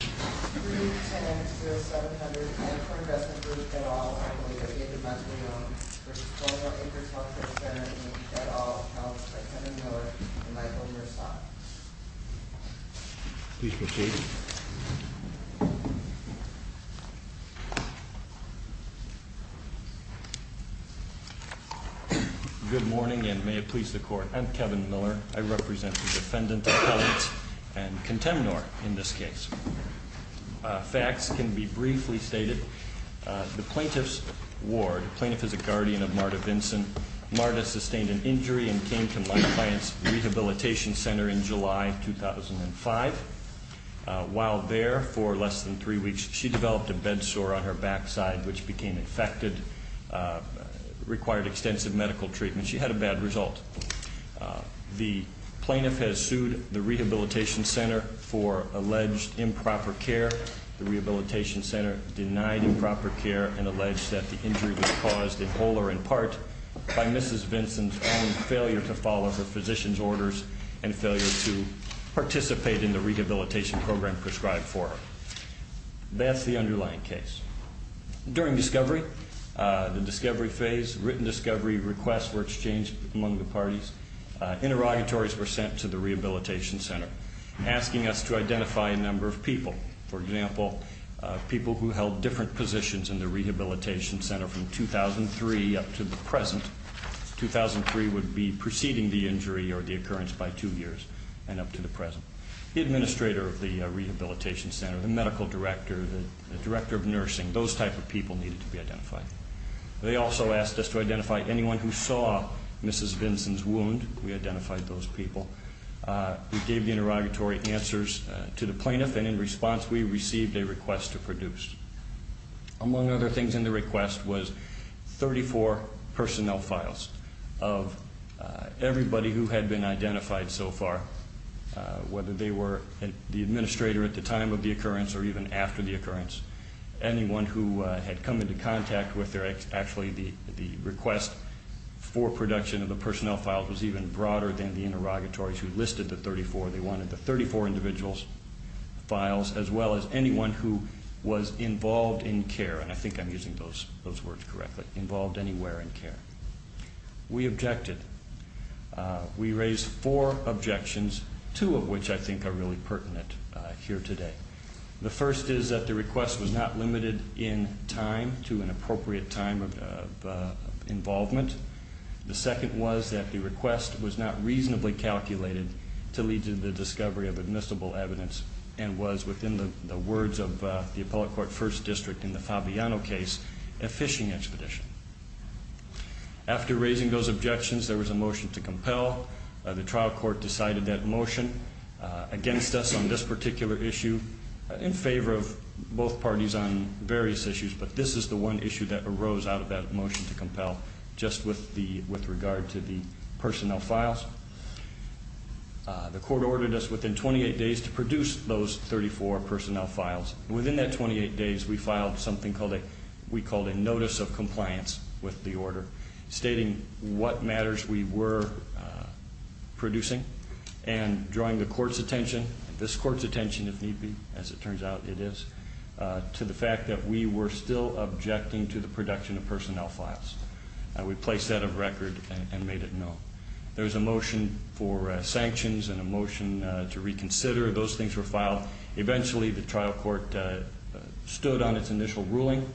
310-0700, Ancore Investment Group, Dettol, v. Colonial Acres Healthcare Centre, Inc., Dettol, helped by Kevin Miller and Michael Merzock. Please proceed. Good morning, and may it please the Court. I'm Kevin Miller. I represent the Defendant, Appellant, and Contemnor in this case. Facts can be briefly stated. The plaintiff's ward, the plaintiff is a guardian of Marta Vinson. Marta sustained an injury and came to my client's rehabilitation centre in July 2005. While there, for less than three weeks, she developed a bed sore on her backside, which became infected, required extensive medical treatment. She had a bad result. The plaintiff has sued the rehabilitation centre for alleged improper care. The rehabilitation centre denied improper care and alleged that the injury was caused, in whole or in part, by Mrs. Vinson's own failure to follow her physician's orders and failure to participate in the rehabilitation program prescribed for her. That's the underlying case. During discovery, the discovery phase, written discovery requests were exchanged among the parties. Interrogatories were sent to the rehabilitation centre, asking us to identify a number of people. For example, people who held different positions in the rehabilitation centre from 2003 up to the present. 2003 would be preceding the injury or the occurrence by two years and up to the present. The administrator of the rehabilitation centre, the medical director, the director of nursing, those type of people needed to be identified. They also asked us to identify anyone who saw Mrs. Vinson's wound. We identified those people. We gave the interrogatory answers to the plaintiff, and in response, we received a request to produce. Among other things in the request was 34 personnel files of everybody who had been identified so far, whether they were the administrator at the time of the occurrence or even after the occurrence. Anyone who had come into contact with their, actually, the request for production of the personnel files was even broader than the interrogatories who listed the 34. They wanted the 34 individuals' files as well as anyone who was involved in care, and I think I'm using those words correctly, involved anywhere in care. We objected. We raised four objections, two of which I think are really pertinent here today. The first is that the request was not limited in time to an appropriate time of involvement. The second was that the request was not reasonably calculated to lead to the discovery of admissible evidence and was, within the words of the Appellate Court First District in the Fabiano case, a phishing expedition. After raising those objections, there was a motion to compel. The trial court decided that motion against us on this particular issue in favor of both parties on various issues, but this is the one issue that arose out of that motion to compel just with regard to the personnel files. The court ordered us within 28 days to produce those 34 personnel files. Within that 28 days, we filed something we called a notice of compliance with the order, stating what matters we were producing and drawing the court's attention, this court's attention if need be, as it turns out it is, to the fact that we were still objecting to the production of personnel files. We placed that of record and made it known. There was a motion for sanctions and a motion to reconsider. Those things were filed. Eventually, the trial court stood on its initial ruling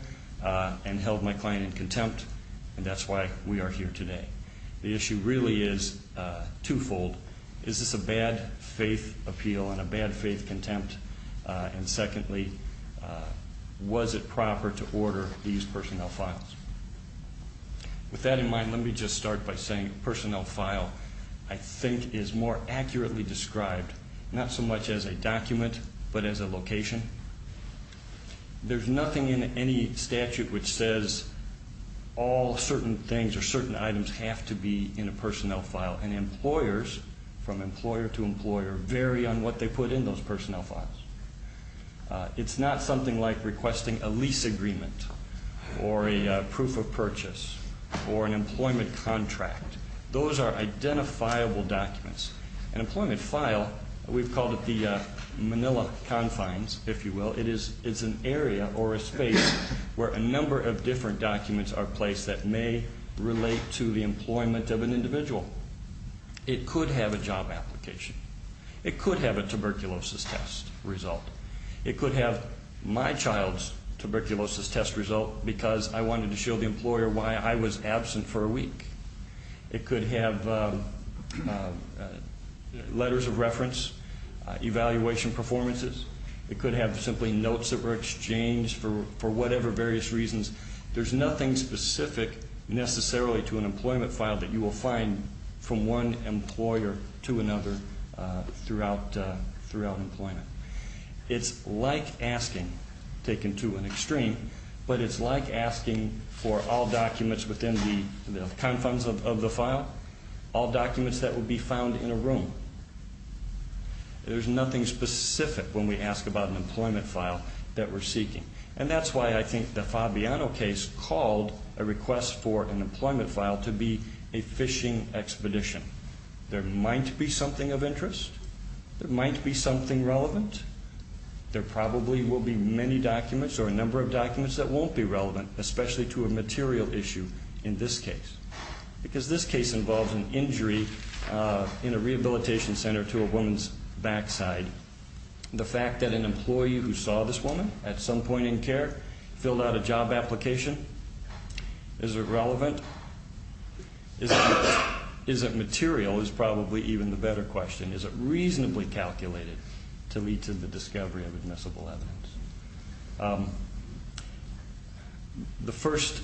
and held my client in contempt, and that's why we are here today. The issue really is twofold. Is this a bad faith appeal and a bad faith contempt? And secondly, was it proper to order these personnel files? With that in mind, let me just start by saying a personnel file, I think, is more accurately described, not so much as a document but as a location. There's nothing in any statute which says all certain things or certain items have to be in a personnel file, and employers, from employer to employer, vary on what they put in those personnel files. It's not something like requesting a lease agreement or a proof of purchase or an employment contract. Those are identifiable documents. An employment file, we've called it the Manila confines, if you will. It is an area or a space where a number of different documents are placed that may relate to the employment of an individual. It could have a job application. It could have a tuberculosis test result. It could have my child's tuberculosis test result because I wanted to show the employer why I was absent for a week. It could have letters of reference, evaluation performances. It could have simply notes that were exchanged for whatever various reasons. There's nothing specific necessarily to an employment file that you will find from one employer to another throughout employment. It's like asking, taken to an extreme, but it's like asking for all documents within the confines of the file, all documents that would be found in a room. There's nothing specific when we ask about an employment file that we're seeking, and that's why I think the Fabiano case called a request for an employment file to be a fishing expedition. There might be something of interest. There might be something relevant. There probably will be many documents or a number of documents that won't be relevant, especially to a material issue in this case because this case involves an injury in a rehabilitation center to a woman's backside. The fact that an employee who saw this woman at some point in care filled out a job application, is it relevant? Is it material is probably even the better question. Is it reasonably calculated to lead to the discovery of admissible evidence? The first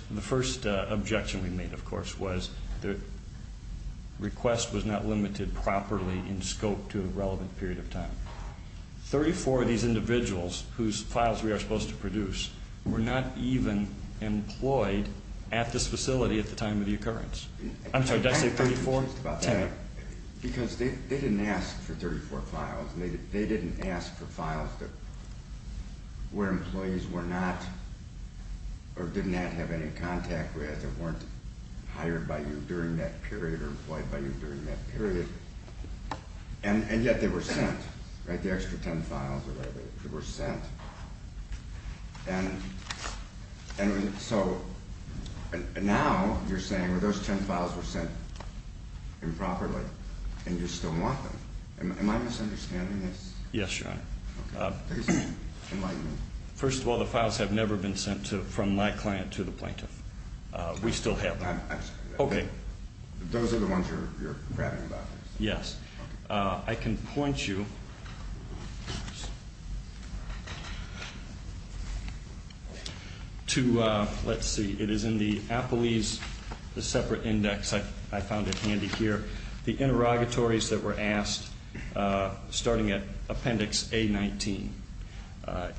objection we made, of course, was the request was not limited properly in scope to a relevant period of time. Thirty-four of these individuals whose files we are supposed to produce were not even employed at this facility at the time of the occurrence. I'm sorry, did I say 34? Because they didn't ask for 34 files. They didn't ask for files where employees were not or did not have any contact with or weren't hired by you during that period or employed by you during that period, and yet they were sent. The extra ten files were sent. And so now you're saying, well, those ten files were sent improperly and you still want them. Am I misunderstanding this? Yes, Your Honor. Enlighten me. First of all, the files have never been sent from my client to the plaintiff. We still have them. Okay. Those are the ones you're bragging about? Yes. I can point you to, let's see, it is in the Apolis, the separate index, I found it handy here, the interrogatories that were asked starting at Appendix A-19.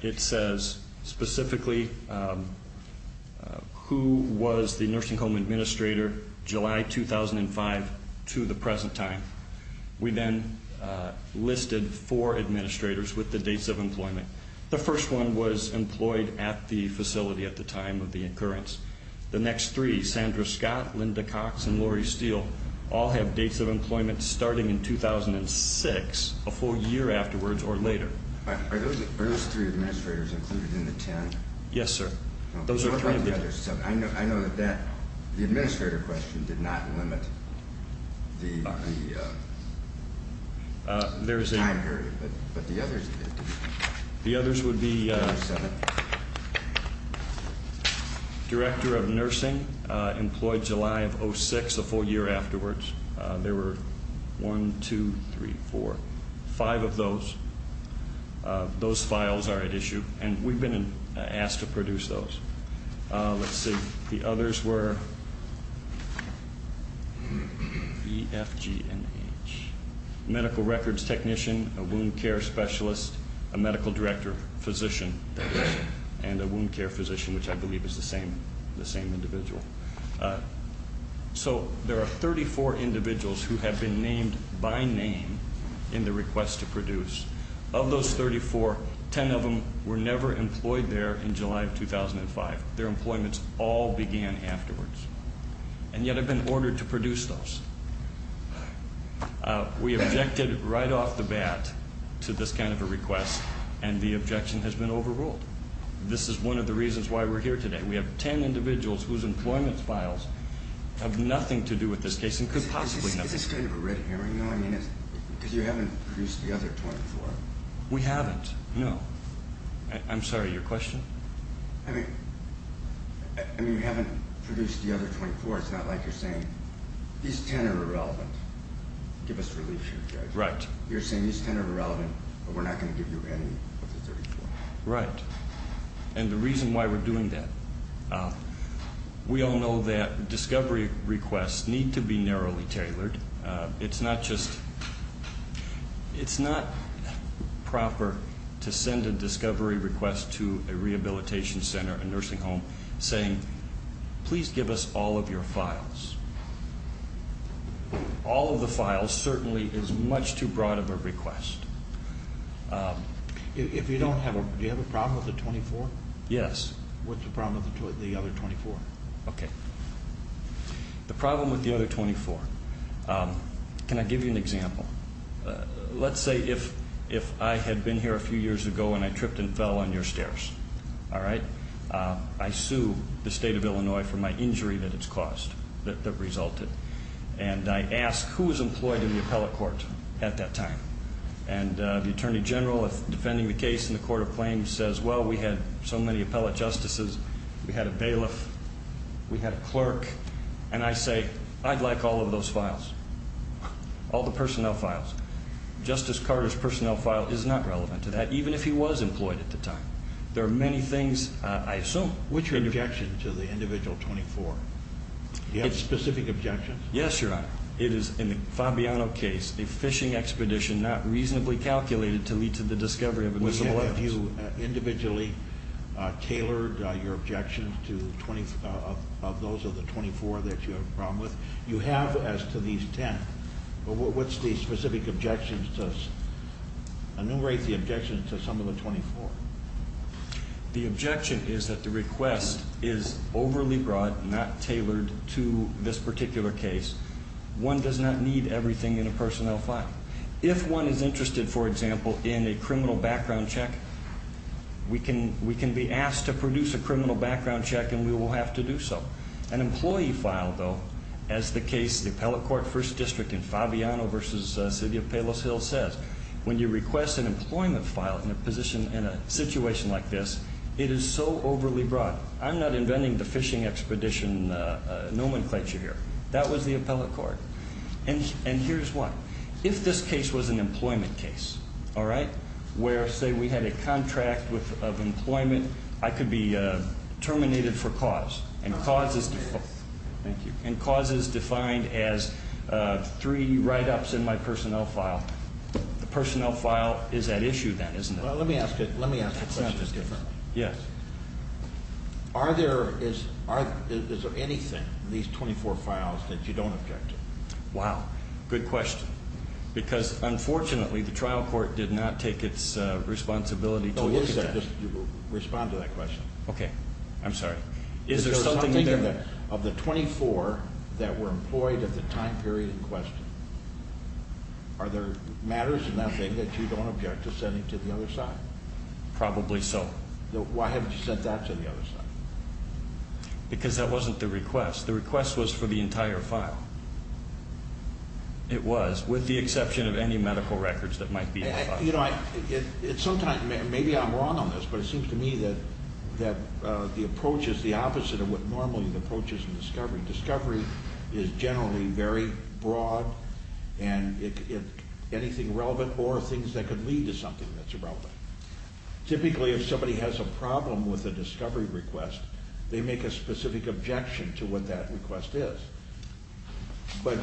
It says specifically who was the nursing home administrator July 2005 to the present time. We then listed four administrators with the dates of employment. The first one was employed at the facility at the time of the occurrence. The next three, Sandra Scott, Linda Cox, and Lori Steele, all have dates of employment starting in 2006, a full year afterwards or later. Are those three administrators included in the ten? Yes, sir. I know that the administrator question did not limit the time period, but the others did. The others would be Director of Nursing, employed July of 2006, a full year afterwards. There were one, two, three, four, five of those. Those files are at issue, and we've been asked to produce those. Let's see. The others were EFG&H, medical records technician, a wound care specialist, a medical director, physician, and a wound care physician, which I believe is the same individual. So there are 34 individuals who have been named by name in the request to produce. Of those 34, ten of them were never employed there in July of 2005. Their employments all began afterwards, and yet have been ordered to produce those. We objected right off the bat to this kind of a request, and the objection has been overruled. This is one of the reasons why we're here today. We have ten individuals whose employment files have nothing to do with this case and could possibly not. Is this kind of a red herring, though? I mean, because you haven't produced the other 24. We haven't, no. I'm sorry, your question? I mean, you haven't produced the other 24. It's not like you're saying these ten are irrelevant. Give us relief here, Judge. Right. You're saying these ten are irrelevant, but we're not going to give you any of the 34. Right. And the reason why we're doing that, we all know that discovery requests need to be narrowly tailored. It's not just proper to send a discovery request to a rehabilitation center, a nursing home, saying, please give us all of your files. All of the files certainly is much too broad of a request. Do you have a problem with the 24? Yes. What's the problem with the other 24? Okay. The problem with the other 24, can I give you an example? Let's say if I had been here a few years ago and I tripped and fell on your stairs, all right? I sue the state of Illinois for my injury that it's caused, that resulted, and I ask who was employed in the appellate court at that time, and the attorney general defending the case in the court of claims says, well, we had so many appellate justices, we had a bailiff, we had a clerk, and I say, I'd like all of those files, all the personnel files. Justice Carter's personnel file is not relevant to that, even if he was employed at the time. There are many things I assume. What's your objection to the individual 24? Do you have specific objections? Yes, Your Honor. It is, in the Fabiano case, the fishing expedition not reasonably calculated to lead to the discovery of invisible evidence. Have you individually tailored your objections to those of the 24 that you have a problem with? You have as to these 10, but what's the specific objection to us? Enumerate the objections to some of the 24. The objection is that the request is overly broad, not tailored to this particular case. One does not need everything in a personnel file. If one is interested, for example, in a criminal background check, we can be asked to produce a criminal background check, and we will have to do so. An employee file, though, as the case of the appellate court first district in Fabiano v. City of Palos Hills says, when you request an employment file in a situation like this, it is so overly broad. I'm not inventing the fishing expedition nomenclature here. That was the appellate court. And here's why. If this case was an employment case, all right, where, say, we had a contract of employment, I could be terminated for cause. Thank you. And cause is defined as three write-ups in my personnel file. The personnel file is at issue then, isn't it? Well, let me ask the question differently. Yes. Is there anything in these 24 files that you don't object to? Wow. Good question. Because, unfortunately, the trial court did not take its responsibility to look at that. Respond to that question. Okay. I'm sorry. Is there something there? Of the 24 that were employed at the time period in question, are there matters in that thing that you don't object to sending to the other side? Probably so. Why haven't you sent that to the other side? Because that wasn't the request. The request was for the entire file. It was, with the exception of any medical records that might be in the file. You know, sometimes maybe I'm wrong on this, but it seems to me that the approach is the opposite of what normally the approach is in discovery. Discovery is generally very broad, and anything relevant or things that could lead to something that's irrelevant. Typically, if somebody has a problem with a discovery request, they make a specific objection to what that request is. But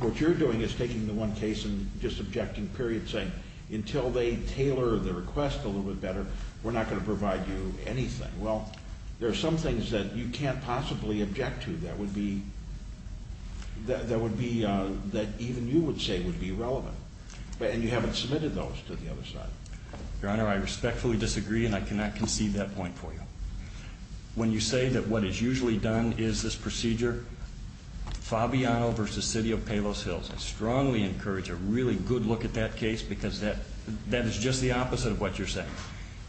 what you're doing is taking the one case and just objecting, period, saying, until they tailor the request a little bit better, we're not going to provide you anything. Well, there are some things that you can't possibly object to that would be, that even you would say would be relevant, and you haven't submitted those to the other side. Your Honor, I respectfully disagree, and I cannot concede that point for you. When you say that what is usually done is this procedure, Fabiano v. City of Palos Hills, I strongly encourage a really good look at that case, because that is just the opposite of what you're saying.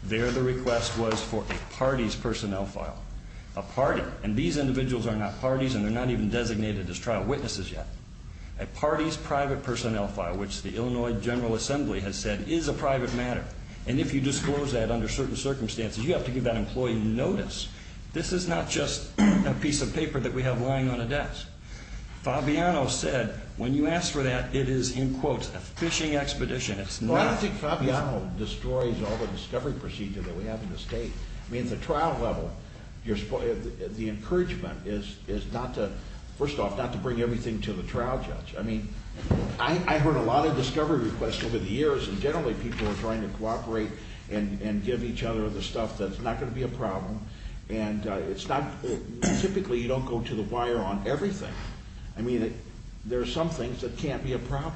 There, the request was for a parties personnel file. A party, and these individuals are not parties, and they're not even designated as trial witnesses yet. A parties private personnel file, which the Illinois General Assembly has said is a private matter, and if you disclose that under certain circumstances, you have to give that employee notice. This is not just a piece of paper that we have lying on a desk. Fabiano said, when you ask for that, it is, in quotes, a fishing expedition. Well, I don't think Fabiano destroys all the discovery procedure that we have in the state. I mean, at the trial level, the encouragement is not to, first off, not to bring everything to the trial judge. I mean, I heard a lot of discovery requests over the years, and generally people are trying to cooperate and give each other the stuff that's not going to be a problem. And it's not, typically you don't go to the wire on everything. I mean, there are some things that can't be a problem,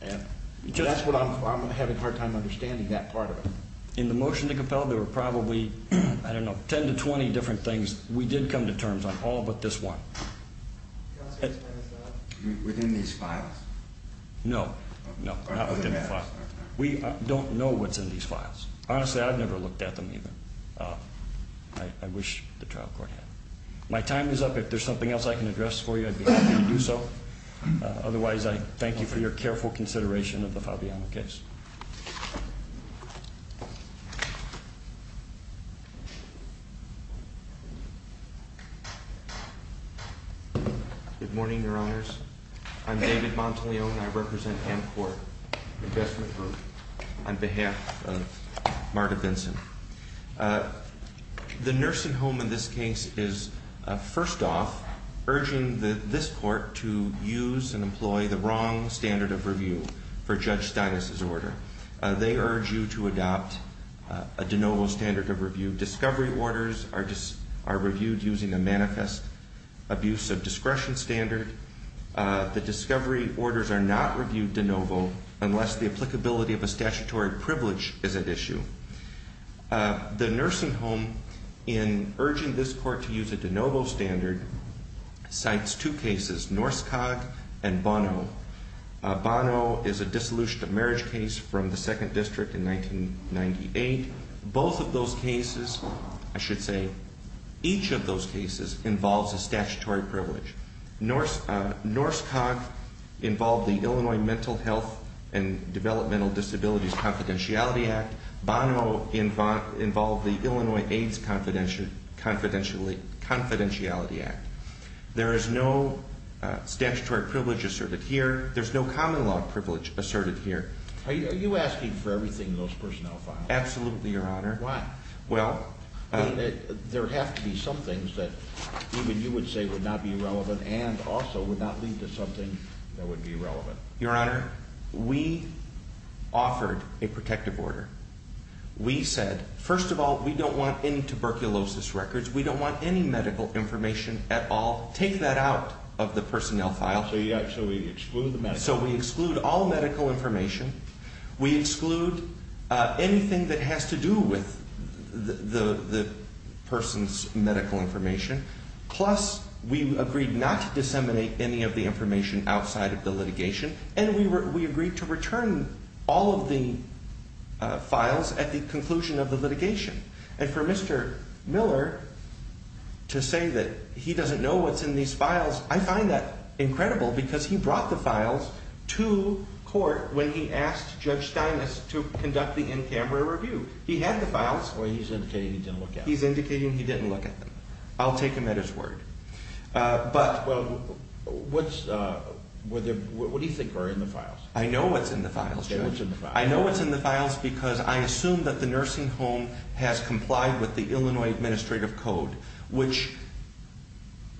and that's what I'm having a hard time understanding, that part of it. In the motion to compel, there were probably, I don't know, 10 to 20 different things. We did come to terms on all but this one. Within these files? No, no, not within the files. We don't know what's in these files. Honestly, I've never looked at them either. I wish the trial court had. My time is up. If there's something else I can address for you, I'd be happy to do so. Otherwise, I thank you for your careful consideration of the Fabiano case. Good morning, Your Honors. I'm David Montaleo, and I represent Amcorp Investment Group on behalf of Marta Benson. The nursing home in this case is, first off, urging this court to use and employ the wrong standard of review for Judge Stinas' order. They urge you to adopt a de novo standard of review. Discovery orders are reviewed using a manifest abuse of discretion standard. The discovery orders are not reviewed de novo unless the applicability of a statutory privilege is at issue. The nursing home, in urging this court to use a de novo standard, cites two cases, Norskog and Bono. Bono is a dissolution of marriage case from the Second District in 1998. Both of those cases, I should say, each of those cases involves a statutory privilege. Norskog involved the Illinois Mental Health and Developmental Disabilities Confidentiality Act. Bono involved the Illinois AIDS Confidentiality Act. There is no statutory privilege asserted here. There's no common law privilege asserted here. Are you asking for everything in those personnel files? Absolutely, Your Honor. Why? Well... There have to be some things that even you would say would not be relevant and also would not lead to something that would be relevant. Your Honor, we offered a protective order. We said, first of all, we don't want any tuberculosis records. We don't want any medical information at all. Take that out of the personnel file. So you actually exclude the medical information? So we exclude all medical information. We exclude anything that has to do with the person's medical information. Plus, we agreed not to disseminate any of the information outside of the litigation. And we agreed to return all of the files at the conclusion of the litigation. And for Mr. Miller to say that he doesn't know what's in these files, I find that incredible because he brought the files to court when he asked Judge Steinitz to conduct the in-camera review. He had the files. Well, he's indicating he didn't look at them. He's indicating he didn't look at them. I'll take him at his word. Well, what do you think are in the files? I know what's in the files, Judge. Okay, what's in the files? I know what's in the files because I assume that the nursing home has complied with the Illinois Administrative Code, which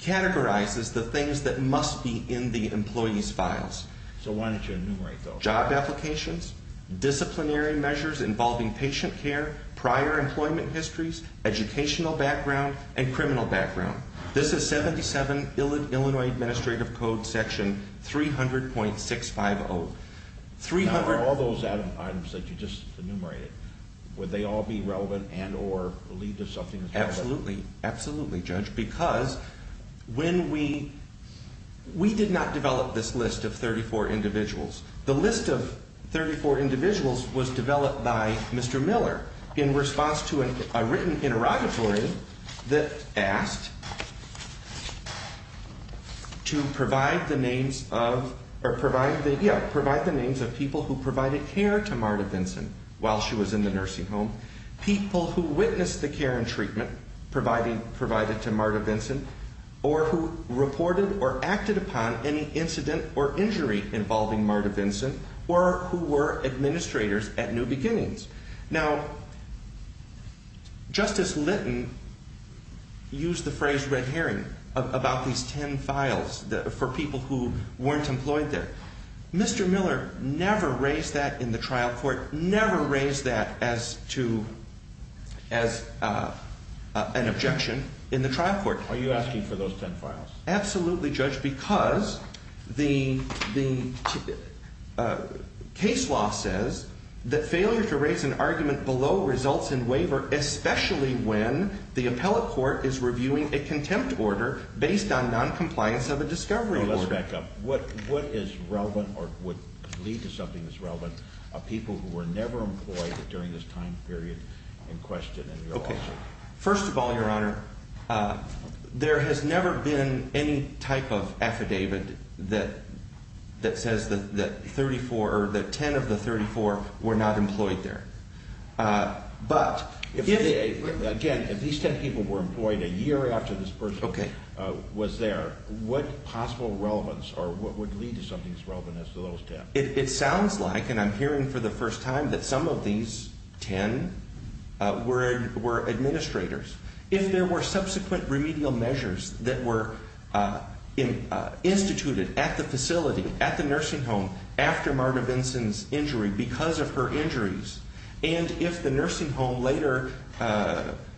categorizes the things that must be in the employees' files. So why don't you enumerate those? disciplinary measures involving patient care, prior employment histories, educational background, and criminal background. This is 77 Illinois Administrative Code section 300.650. Now, are all those items that you just enumerated, would they all be relevant and or lead to something as relevant? Absolutely. Absolutely, Judge, because when we – we did not develop this list of 34 individuals. The list of 34 individuals was developed by Mr. Miller in response to a written interrogatory that asked to provide the names of – or provide the – yeah, provide the names of people who provided care to Marta Vinson while she was in the nursing home, people who witnessed the care and treatment provided to Marta Vinson, or who reported or acted upon any incident or injury involving Marta Vinson, or who were administrators at New Beginnings. Now, Justice Litton used the phrase red herring about these 10 files for people who weren't employed there. Mr. Miller never raised that in the trial court, never raised that as to – as an objection in the trial court. Are you asking for those 10 files? Absolutely, Judge, because the case law says that failure to raise an argument below results in waiver, especially when the appellate court is reviewing a contempt order based on noncompliance of a discovery order. Now, let's back up. What is relevant or would lead to something that's relevant of people who were never employed during this time period in question in your lawsuit? First of all, Your Honor, there has never been any type of affidavit that says that 34 – or that 10 of the 34 were not employed there. But if they – again, if these 10 people were employed a year after this person was there, what possible relevance or what would lead to something that's relevant as to those 10? It sounds like, and I'm hearing for the first time, that some of these 10 were administrators. If there were subsequent remedial measures that were instituted at the facility, at the nursing home, after Marta Vinson's injury because of her injuries, and if the nursing home later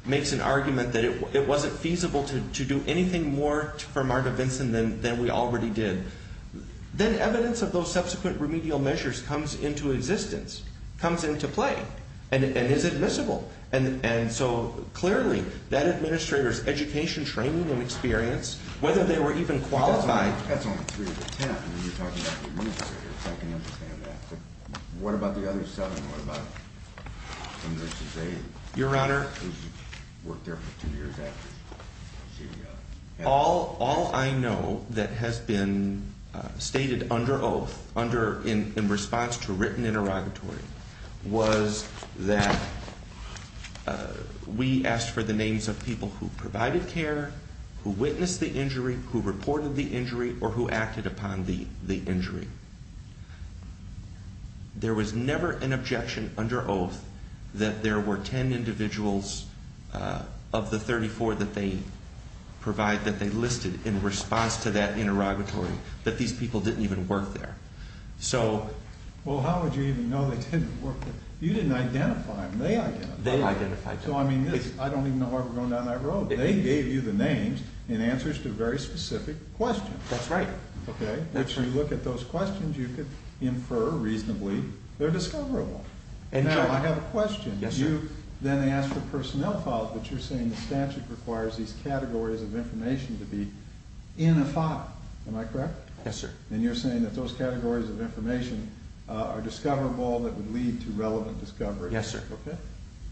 makes an argument that it wasn't feasible to do anything more for Marta Vinson than we already did, then evidence of those subsequent remedial measures comes into existence, comes into play, and is admissible. And so, clearly, that administrator's education, training, and experience, whether they were even qualified – That's only three of the 10. I mean, you're talking about the administrators. I can understand that. But what about the other seven? What about the nurses they – Your Honor –– worked there for two years after she – All I know that has been stated under oath in response to written interrogatory was that we asked for the names of people who provided care, who witnessed the injury, who reported the injury, or who acted upon the injury. There was never an objection under oath that there were 10 individuals of the 34 that they provided, that they listed in response to that interrogatory, that these people didn't even work there. So – Well, how would you even know they didn't work there? You didn't identify them. They identified them. They identified them. So, I mean, I don't even know where we're going down that road. They gave you the names in answers to very specific questions. That's right. Okay. If you look at those questions, you could infer reasonably they're discoverable. Now, I have a question. Yes, sir. You then asked for personnel files, but you're saying the statute requires these categories of information to be in a file. Am I correct? Yes, sir. And you're saying that those categories of information are discoverable that would lead to relevant discovery. Yes, sir. Okay.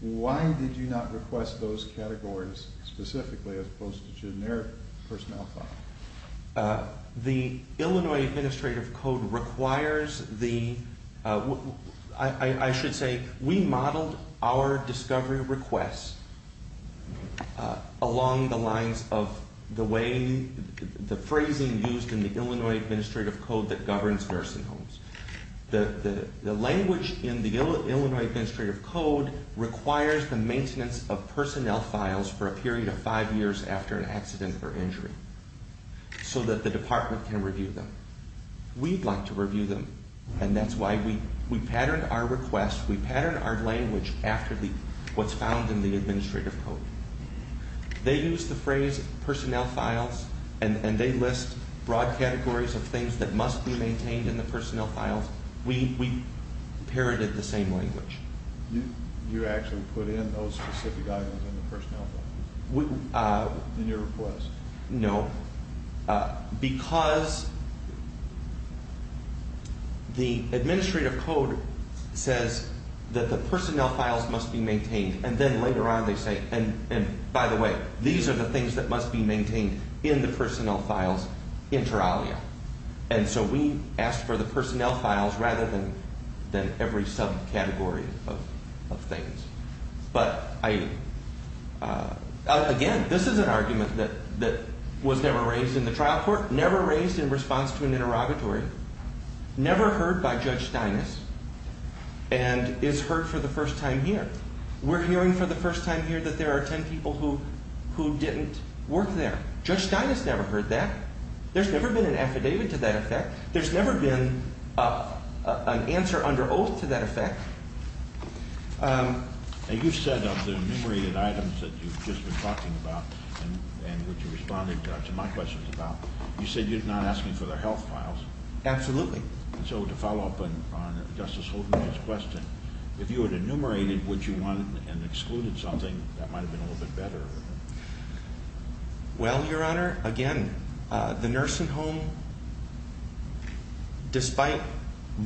Why did you not request those categories specifically as opposed to generic personnel files? The Illinois Administrative Code requires the – I should say we modeled our discovery requests along the lines of the way – the phrasing used in the Illinois Administrative Code that governs nursing homes. The language in the Illinois Administrative Code requires the maintenance of personnel files for a period of five years after an accident or injury so that the department can review them. We'd like to review them, and that's why we patterned our request. We patterned our language after what's found in the Administrative Code. They use the phrase personnel files, and they list broad categories of things that must be maintained in the personnel files. We parroted the same language. You actually put in those specific items in the personnel file in your request? No. Because the Administrative Code says that the personnel files must be maintained, and then later on they say, and by the way, these are the things that must be maintained in the personnel files inter alia. And so we asked for the personnel files rather than every subcategory of things. But again, this is an argument that was never raised in the trial court, never raised in response to an interrogatory, never heard by Judge Steinis, and is heard for the first time here. We're hearing for the first time here that there are 10 people who didn't work there. Judge Steinis never heard that. There's never been an affidavit to that effect. There's never been an answer under oath to that effect. You said of the enumerated items that you've just been talking about and which you responded to my questions about, you said you're not asking for their health files. Absolutely. And so to follow up on Justice Holden's question, if you had enumerated what you wanted and excluded something, that might have been a little bit better. Well, Your Honor, again, the nursing home, despite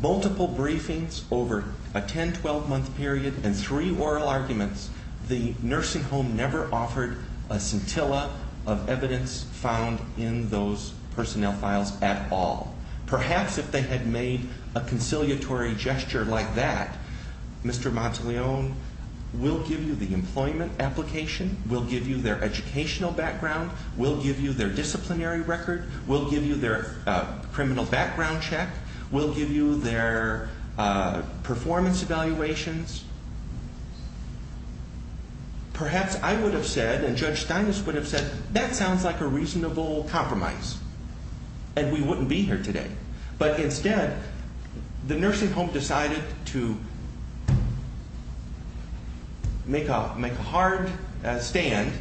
multiple briefings over a 10-, 12-month period and three oral arguments, the nursing home never offered a scintilla of evidence found in those personnel files at all. Perhaps if they had made a conciliatory gesture like that, Mr. Monteleone will give you the employment application, will give you their educational background, will give you their disciplinary record, will give you their criminal background check, will give you their performance evaluations, perhaps I would have said and Judge Steinis would have said that sounds like a reasonable compromise and we wouldn't be here today. But instead, the nursing home decided to make a hard stand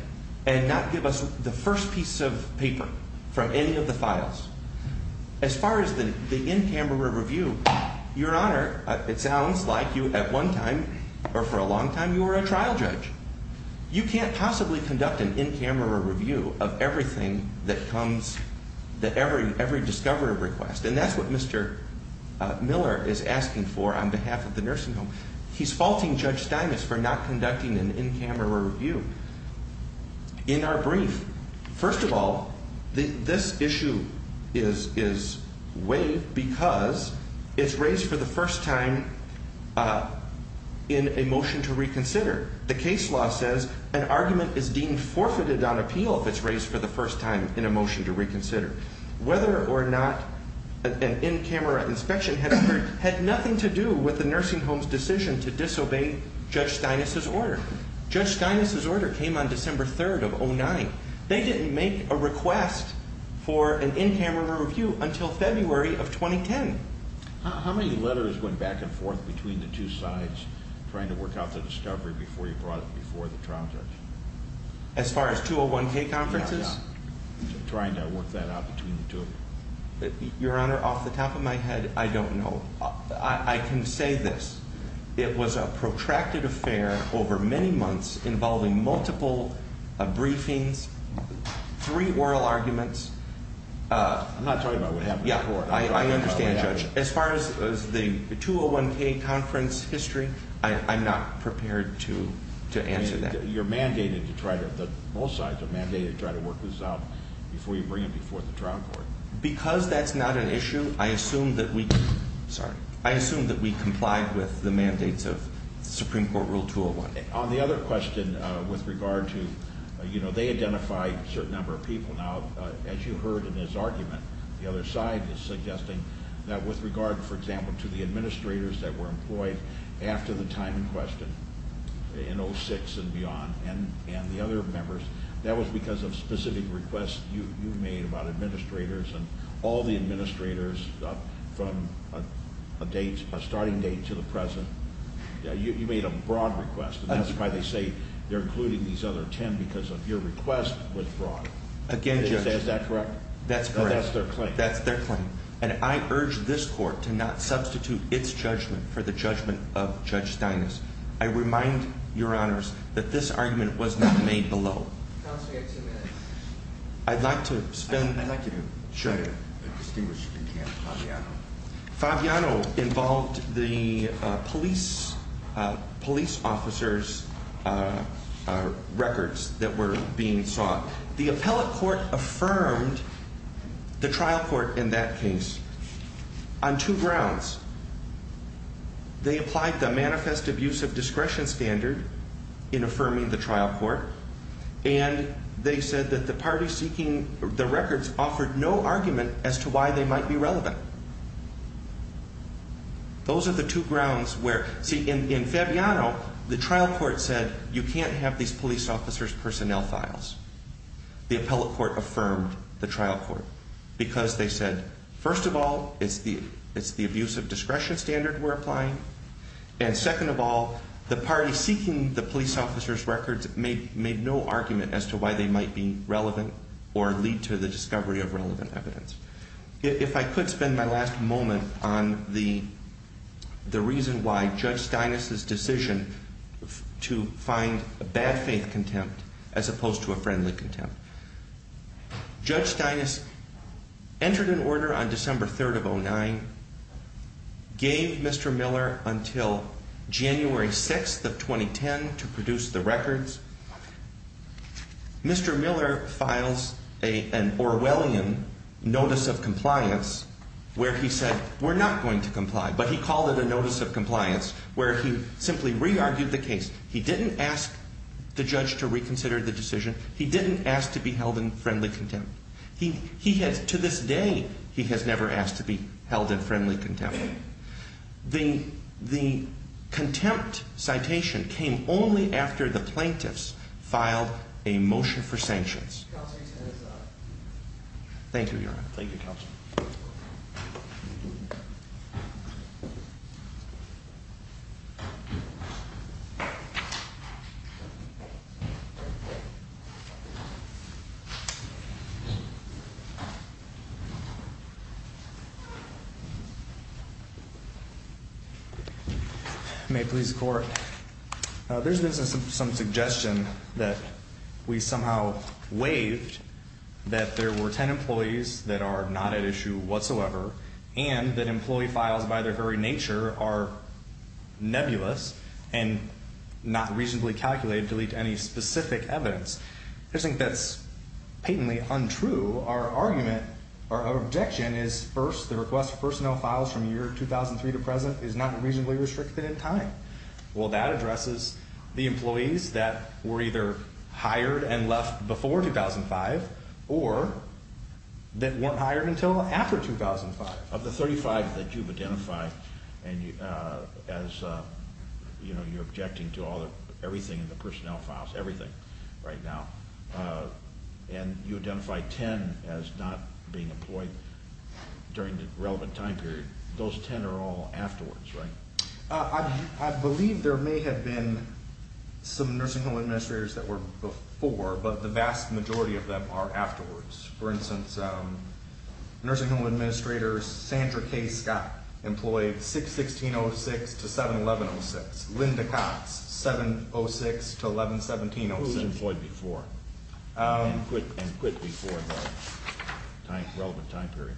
and not give us the first piece of paper for any of the files. As far as the in-camera review, Your Honor, it sounds like you at one time or for a long time you were a trial judge. You can't possibly conduct an in-camera review of everything that comes, every discovery request. And that's what Mr. Miller is asking for on behalf of the nursing home. He's faulting Judge Steinis for not conducting an in-camera review. In our brief, first of all, this issue is waived because it's raised for the first time in a motion to reconsider. The case law says an argument is deemed forfeited on appeal if it's raised for the first time in a motion to reconsider. Whether or not an in-camera inspection has occurred had nothing to do with the nursing home's decision to disobey Judge Steinis' order. Judge Steinis' order came on December 3rd of 2009. They didn't make a request for an in-camera review until February of 2010. How many letters went back and forth between the two sides trying to work out the discovery before you brought it before the trial judge? As far as 201K conferences? Trying to work that out between the two of you. Your Honor, off the top of my head, I don't know. I can say this. It was a protracted affair over many months involving multiple briefings, three oral arguments. I'm not talking about what happened before. I understand, Judge. As far as the 201K conference history, I'm not prepared to answer that. You're mandated to try to, both sides are mandated to try to work this out before you bring it before the trial court. Because that's not an issue, I assume that we, sorry, I assume that we complied with the mandates of Supreme Court Rule 201. On the other question with regard to, you know, they identified a certain number of people. Now, as you heard in his argument, the other side is suggesting that with regard, for example, to the administrators that were employed after the time in question in 06 and beyond and the other members, that was because of specific requests you made about administrators and all the administrators from a starting date to the present. You made a broad request. That's why they say they're including these other ten because of your request with fraud. Again, Judge. Is that correct? That's correct. That's their claim. That's their claim. And I urge this court to not substitute its judgment for the judgment of Judge Steinis. I remind your honors that this argument was not made below. Counsel, you have two minutes. I'd like to spend. I'd like you to. Sure. Fabiano involved the police officers' records that were being sought. The appellate court affirmed the trial court in that case on two grounds. They applied the manifest abuse of discretion standard in affirming the trial court, and they said that the party seeking the records offered no argument as to why they might be relevant. Those are the two grounds where, see, in Fabiano, the trial court said you can't have these police officers' personnel files. The appellate court affirmed the trial court because they said, first of all, it's the abuse of discretion standard we're applying, and second of all, the party seeking the police officers' records made no argument as to why they might be relevant or lead to the discovery of relevant evidence. If I could spend my last moment on the reason why Judge Steinis' decision to find a bad faith contempt as opposed to a friendly contempt. Judge Steinis entered an order on December 3rd of 2009, gave Mr. Miller until January 6th of 2010 to produce the records. Mr. Miller files an Orwellian notice of compliance where he said we're not going to comply, but he called it a notice of compliance where he simply re-argued the case. He didn't ask the judge to reconsider the decision. He didn't ask to be held in friendly contempt. He has, to this day, he has never asked to be held in friendly contempt. The contempt citation came only after the plaintiffs filed a motion for sanctions. Thank you, Your Honor. Thank you, Counsel. May it please the Court. There's been some suggestion that we somehow waived, that there were 10 employees that are not at issue whatsoever, and that employee files by their very nature are nebulous and not reasonably calculated to lead to any specific evidence. I just think that's patently untrue. Our argument, our objection is, first, the request for personnel files from year 2003 to present is not reasonably restricted in time. Well, that addresses the employees that were either hired and left before 2005 or that weren't hired until after 2005. Of the 35 that you've identified, and as, you know, you're objecting to everything in the personnel files, everything right now, and you identify 10 as not being employed during the relevant time period, those 10 are all afterwards, right? I believe there may have been some nursing home administrators that were before, but the vast majority of them are afterwards. For instance, nursing home administrator Sandra K. Scott employed 6-16-06 to 7-11-06. Linda Cox, 7-06 to 11-17-06. Who was employed before and quit before the relevant time period?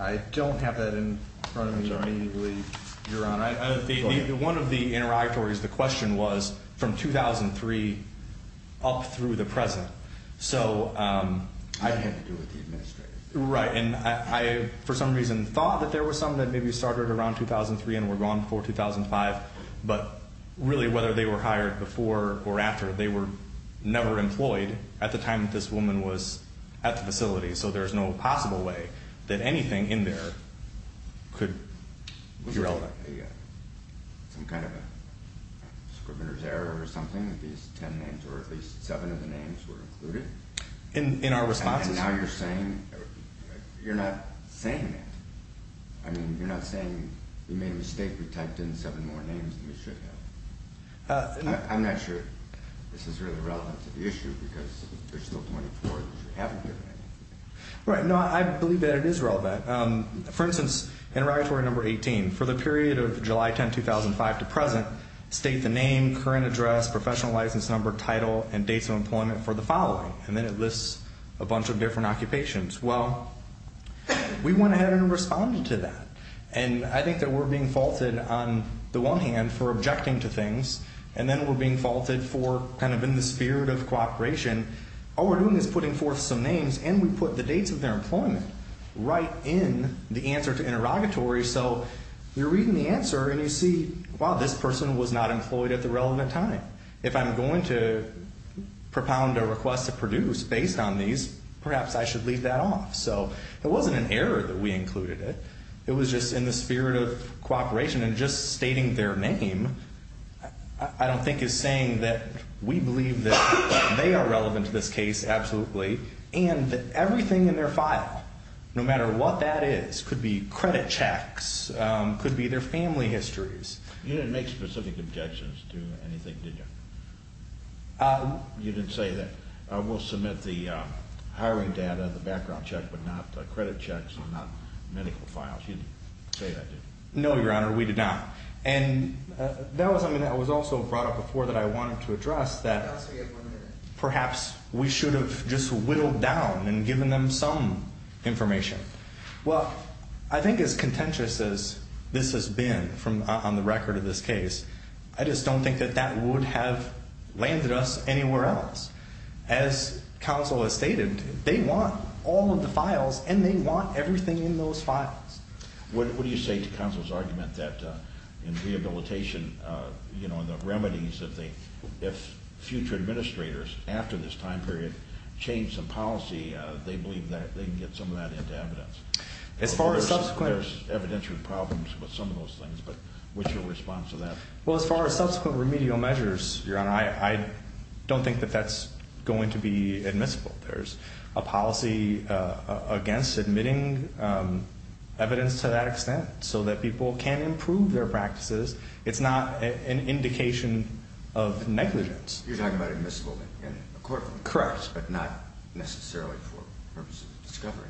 I don't have that in front of me immediately, Your Honor. One of the interrogatories, the question was from 2003 up through the present. I had nothing to do with the administrators. Right, and I for some reason thought that there were some that maybe started around 2003 and were gone before 2005, but really whether they were hired before or after, they were never employed at the time that this woman was at the facility, so there's no possible way that anything in there could be relevant. Was there some kind of a scrivener's error or something that these 10 names, or at least 7 of the names, were included? In our responses? And now you're saying, you're not saying that. I mean, you're not saying we made a mistake, we typed in 7 more names than we should have. I'm not sure this is really relevant to the issue because there's still 24 that you haven't given anything. Right, no, I believe that it is relevant. For instance, interrogatory number 18, for the period of July 10, 2005 to present, state the name, current address, professional license number, title, and dates of employment for the following, and then it lists a bunch of different occupations. Well, we went ahead and responded to that, and I think that we're being faulted on the one hand for objecting to things, and then we're being faulted for kind of in the spirit of cooperation, all we're doing is putting forth some names and we put the dates of their employment right in the answer to interrogatory, so you're reading the answer and you see, wow, this person was not employed at the relevant time. If I'm going to propound a request to produce based on these, perhaps I should leave that off. So it wasn't an error that we included it, it was just in the spirit of cooperation, and just stating their name I don't think is saying that we believe that they are relevant to this case, absolutely, and that everything in their file, no matter what that is, could be credit checks, could be their family histories. You didn't make specific objections to anything, did you? You didn't say that we'll submit the hiring data, the background check, but not credit checks, not medical files. You didn't say that, did you? No, Your Honor, we did not. And that was something that was also brought up before that I wanted to address, that perhaps we should have just whittled down and given them some information. Well, I think as contentious as this has been on the record of this case, I just don't think that that would have landed us anywhere else. As counsel has stated, they want all of the files, and they want everything in those files. What do you say to counsel's argument that in rehabilitation, you know, the remedies that they, if future administrators after this time period change some policy, they believe that they can get some of that into evidence? As far as subsequent... Well, as far as subsequent remedial measures, Your Honor, I don't think that that's going to be admissible. There's a policy against admitting evidence to that extent so that people can improve their practices. It's not an indication of negligence. You're talking about admissible in a courtroom. But not necessarily for purposes of discovery.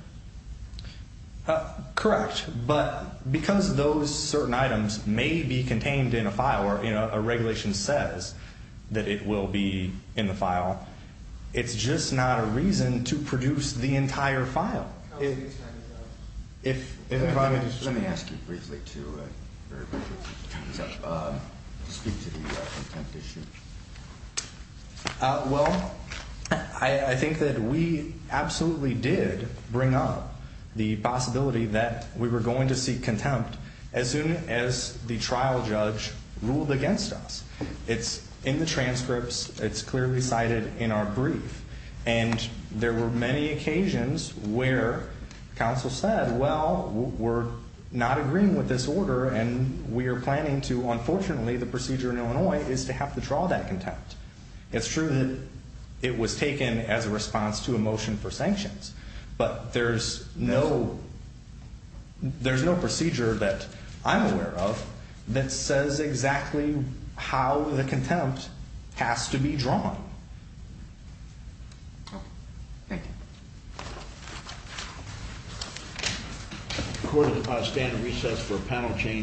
Correct. But because those certain items may be contained in a file or, you know, a regulation says that it will be in the file, it's just not a reason to produce the entire file. Let me ask you briefly to speak to the contempt issue. Well, I think that we absolutely did bring up the possibility that we were going to seek contempt as soon as the trial judge ruled against us. It's in the transcripts. It's clearly cited in our brief. And there were many occasions where counsel said, well, we're not agreeing with this order, and we are planning to, unfortunately, the procedure in Illinois is to have to draw that contempt. It's true that it was taken as a response to a motion for sanctions. But there's no procedure that I'm aware of that says exactly how the contempt has to be drawn. Thank you. Court is about to stand at recess for a panel change.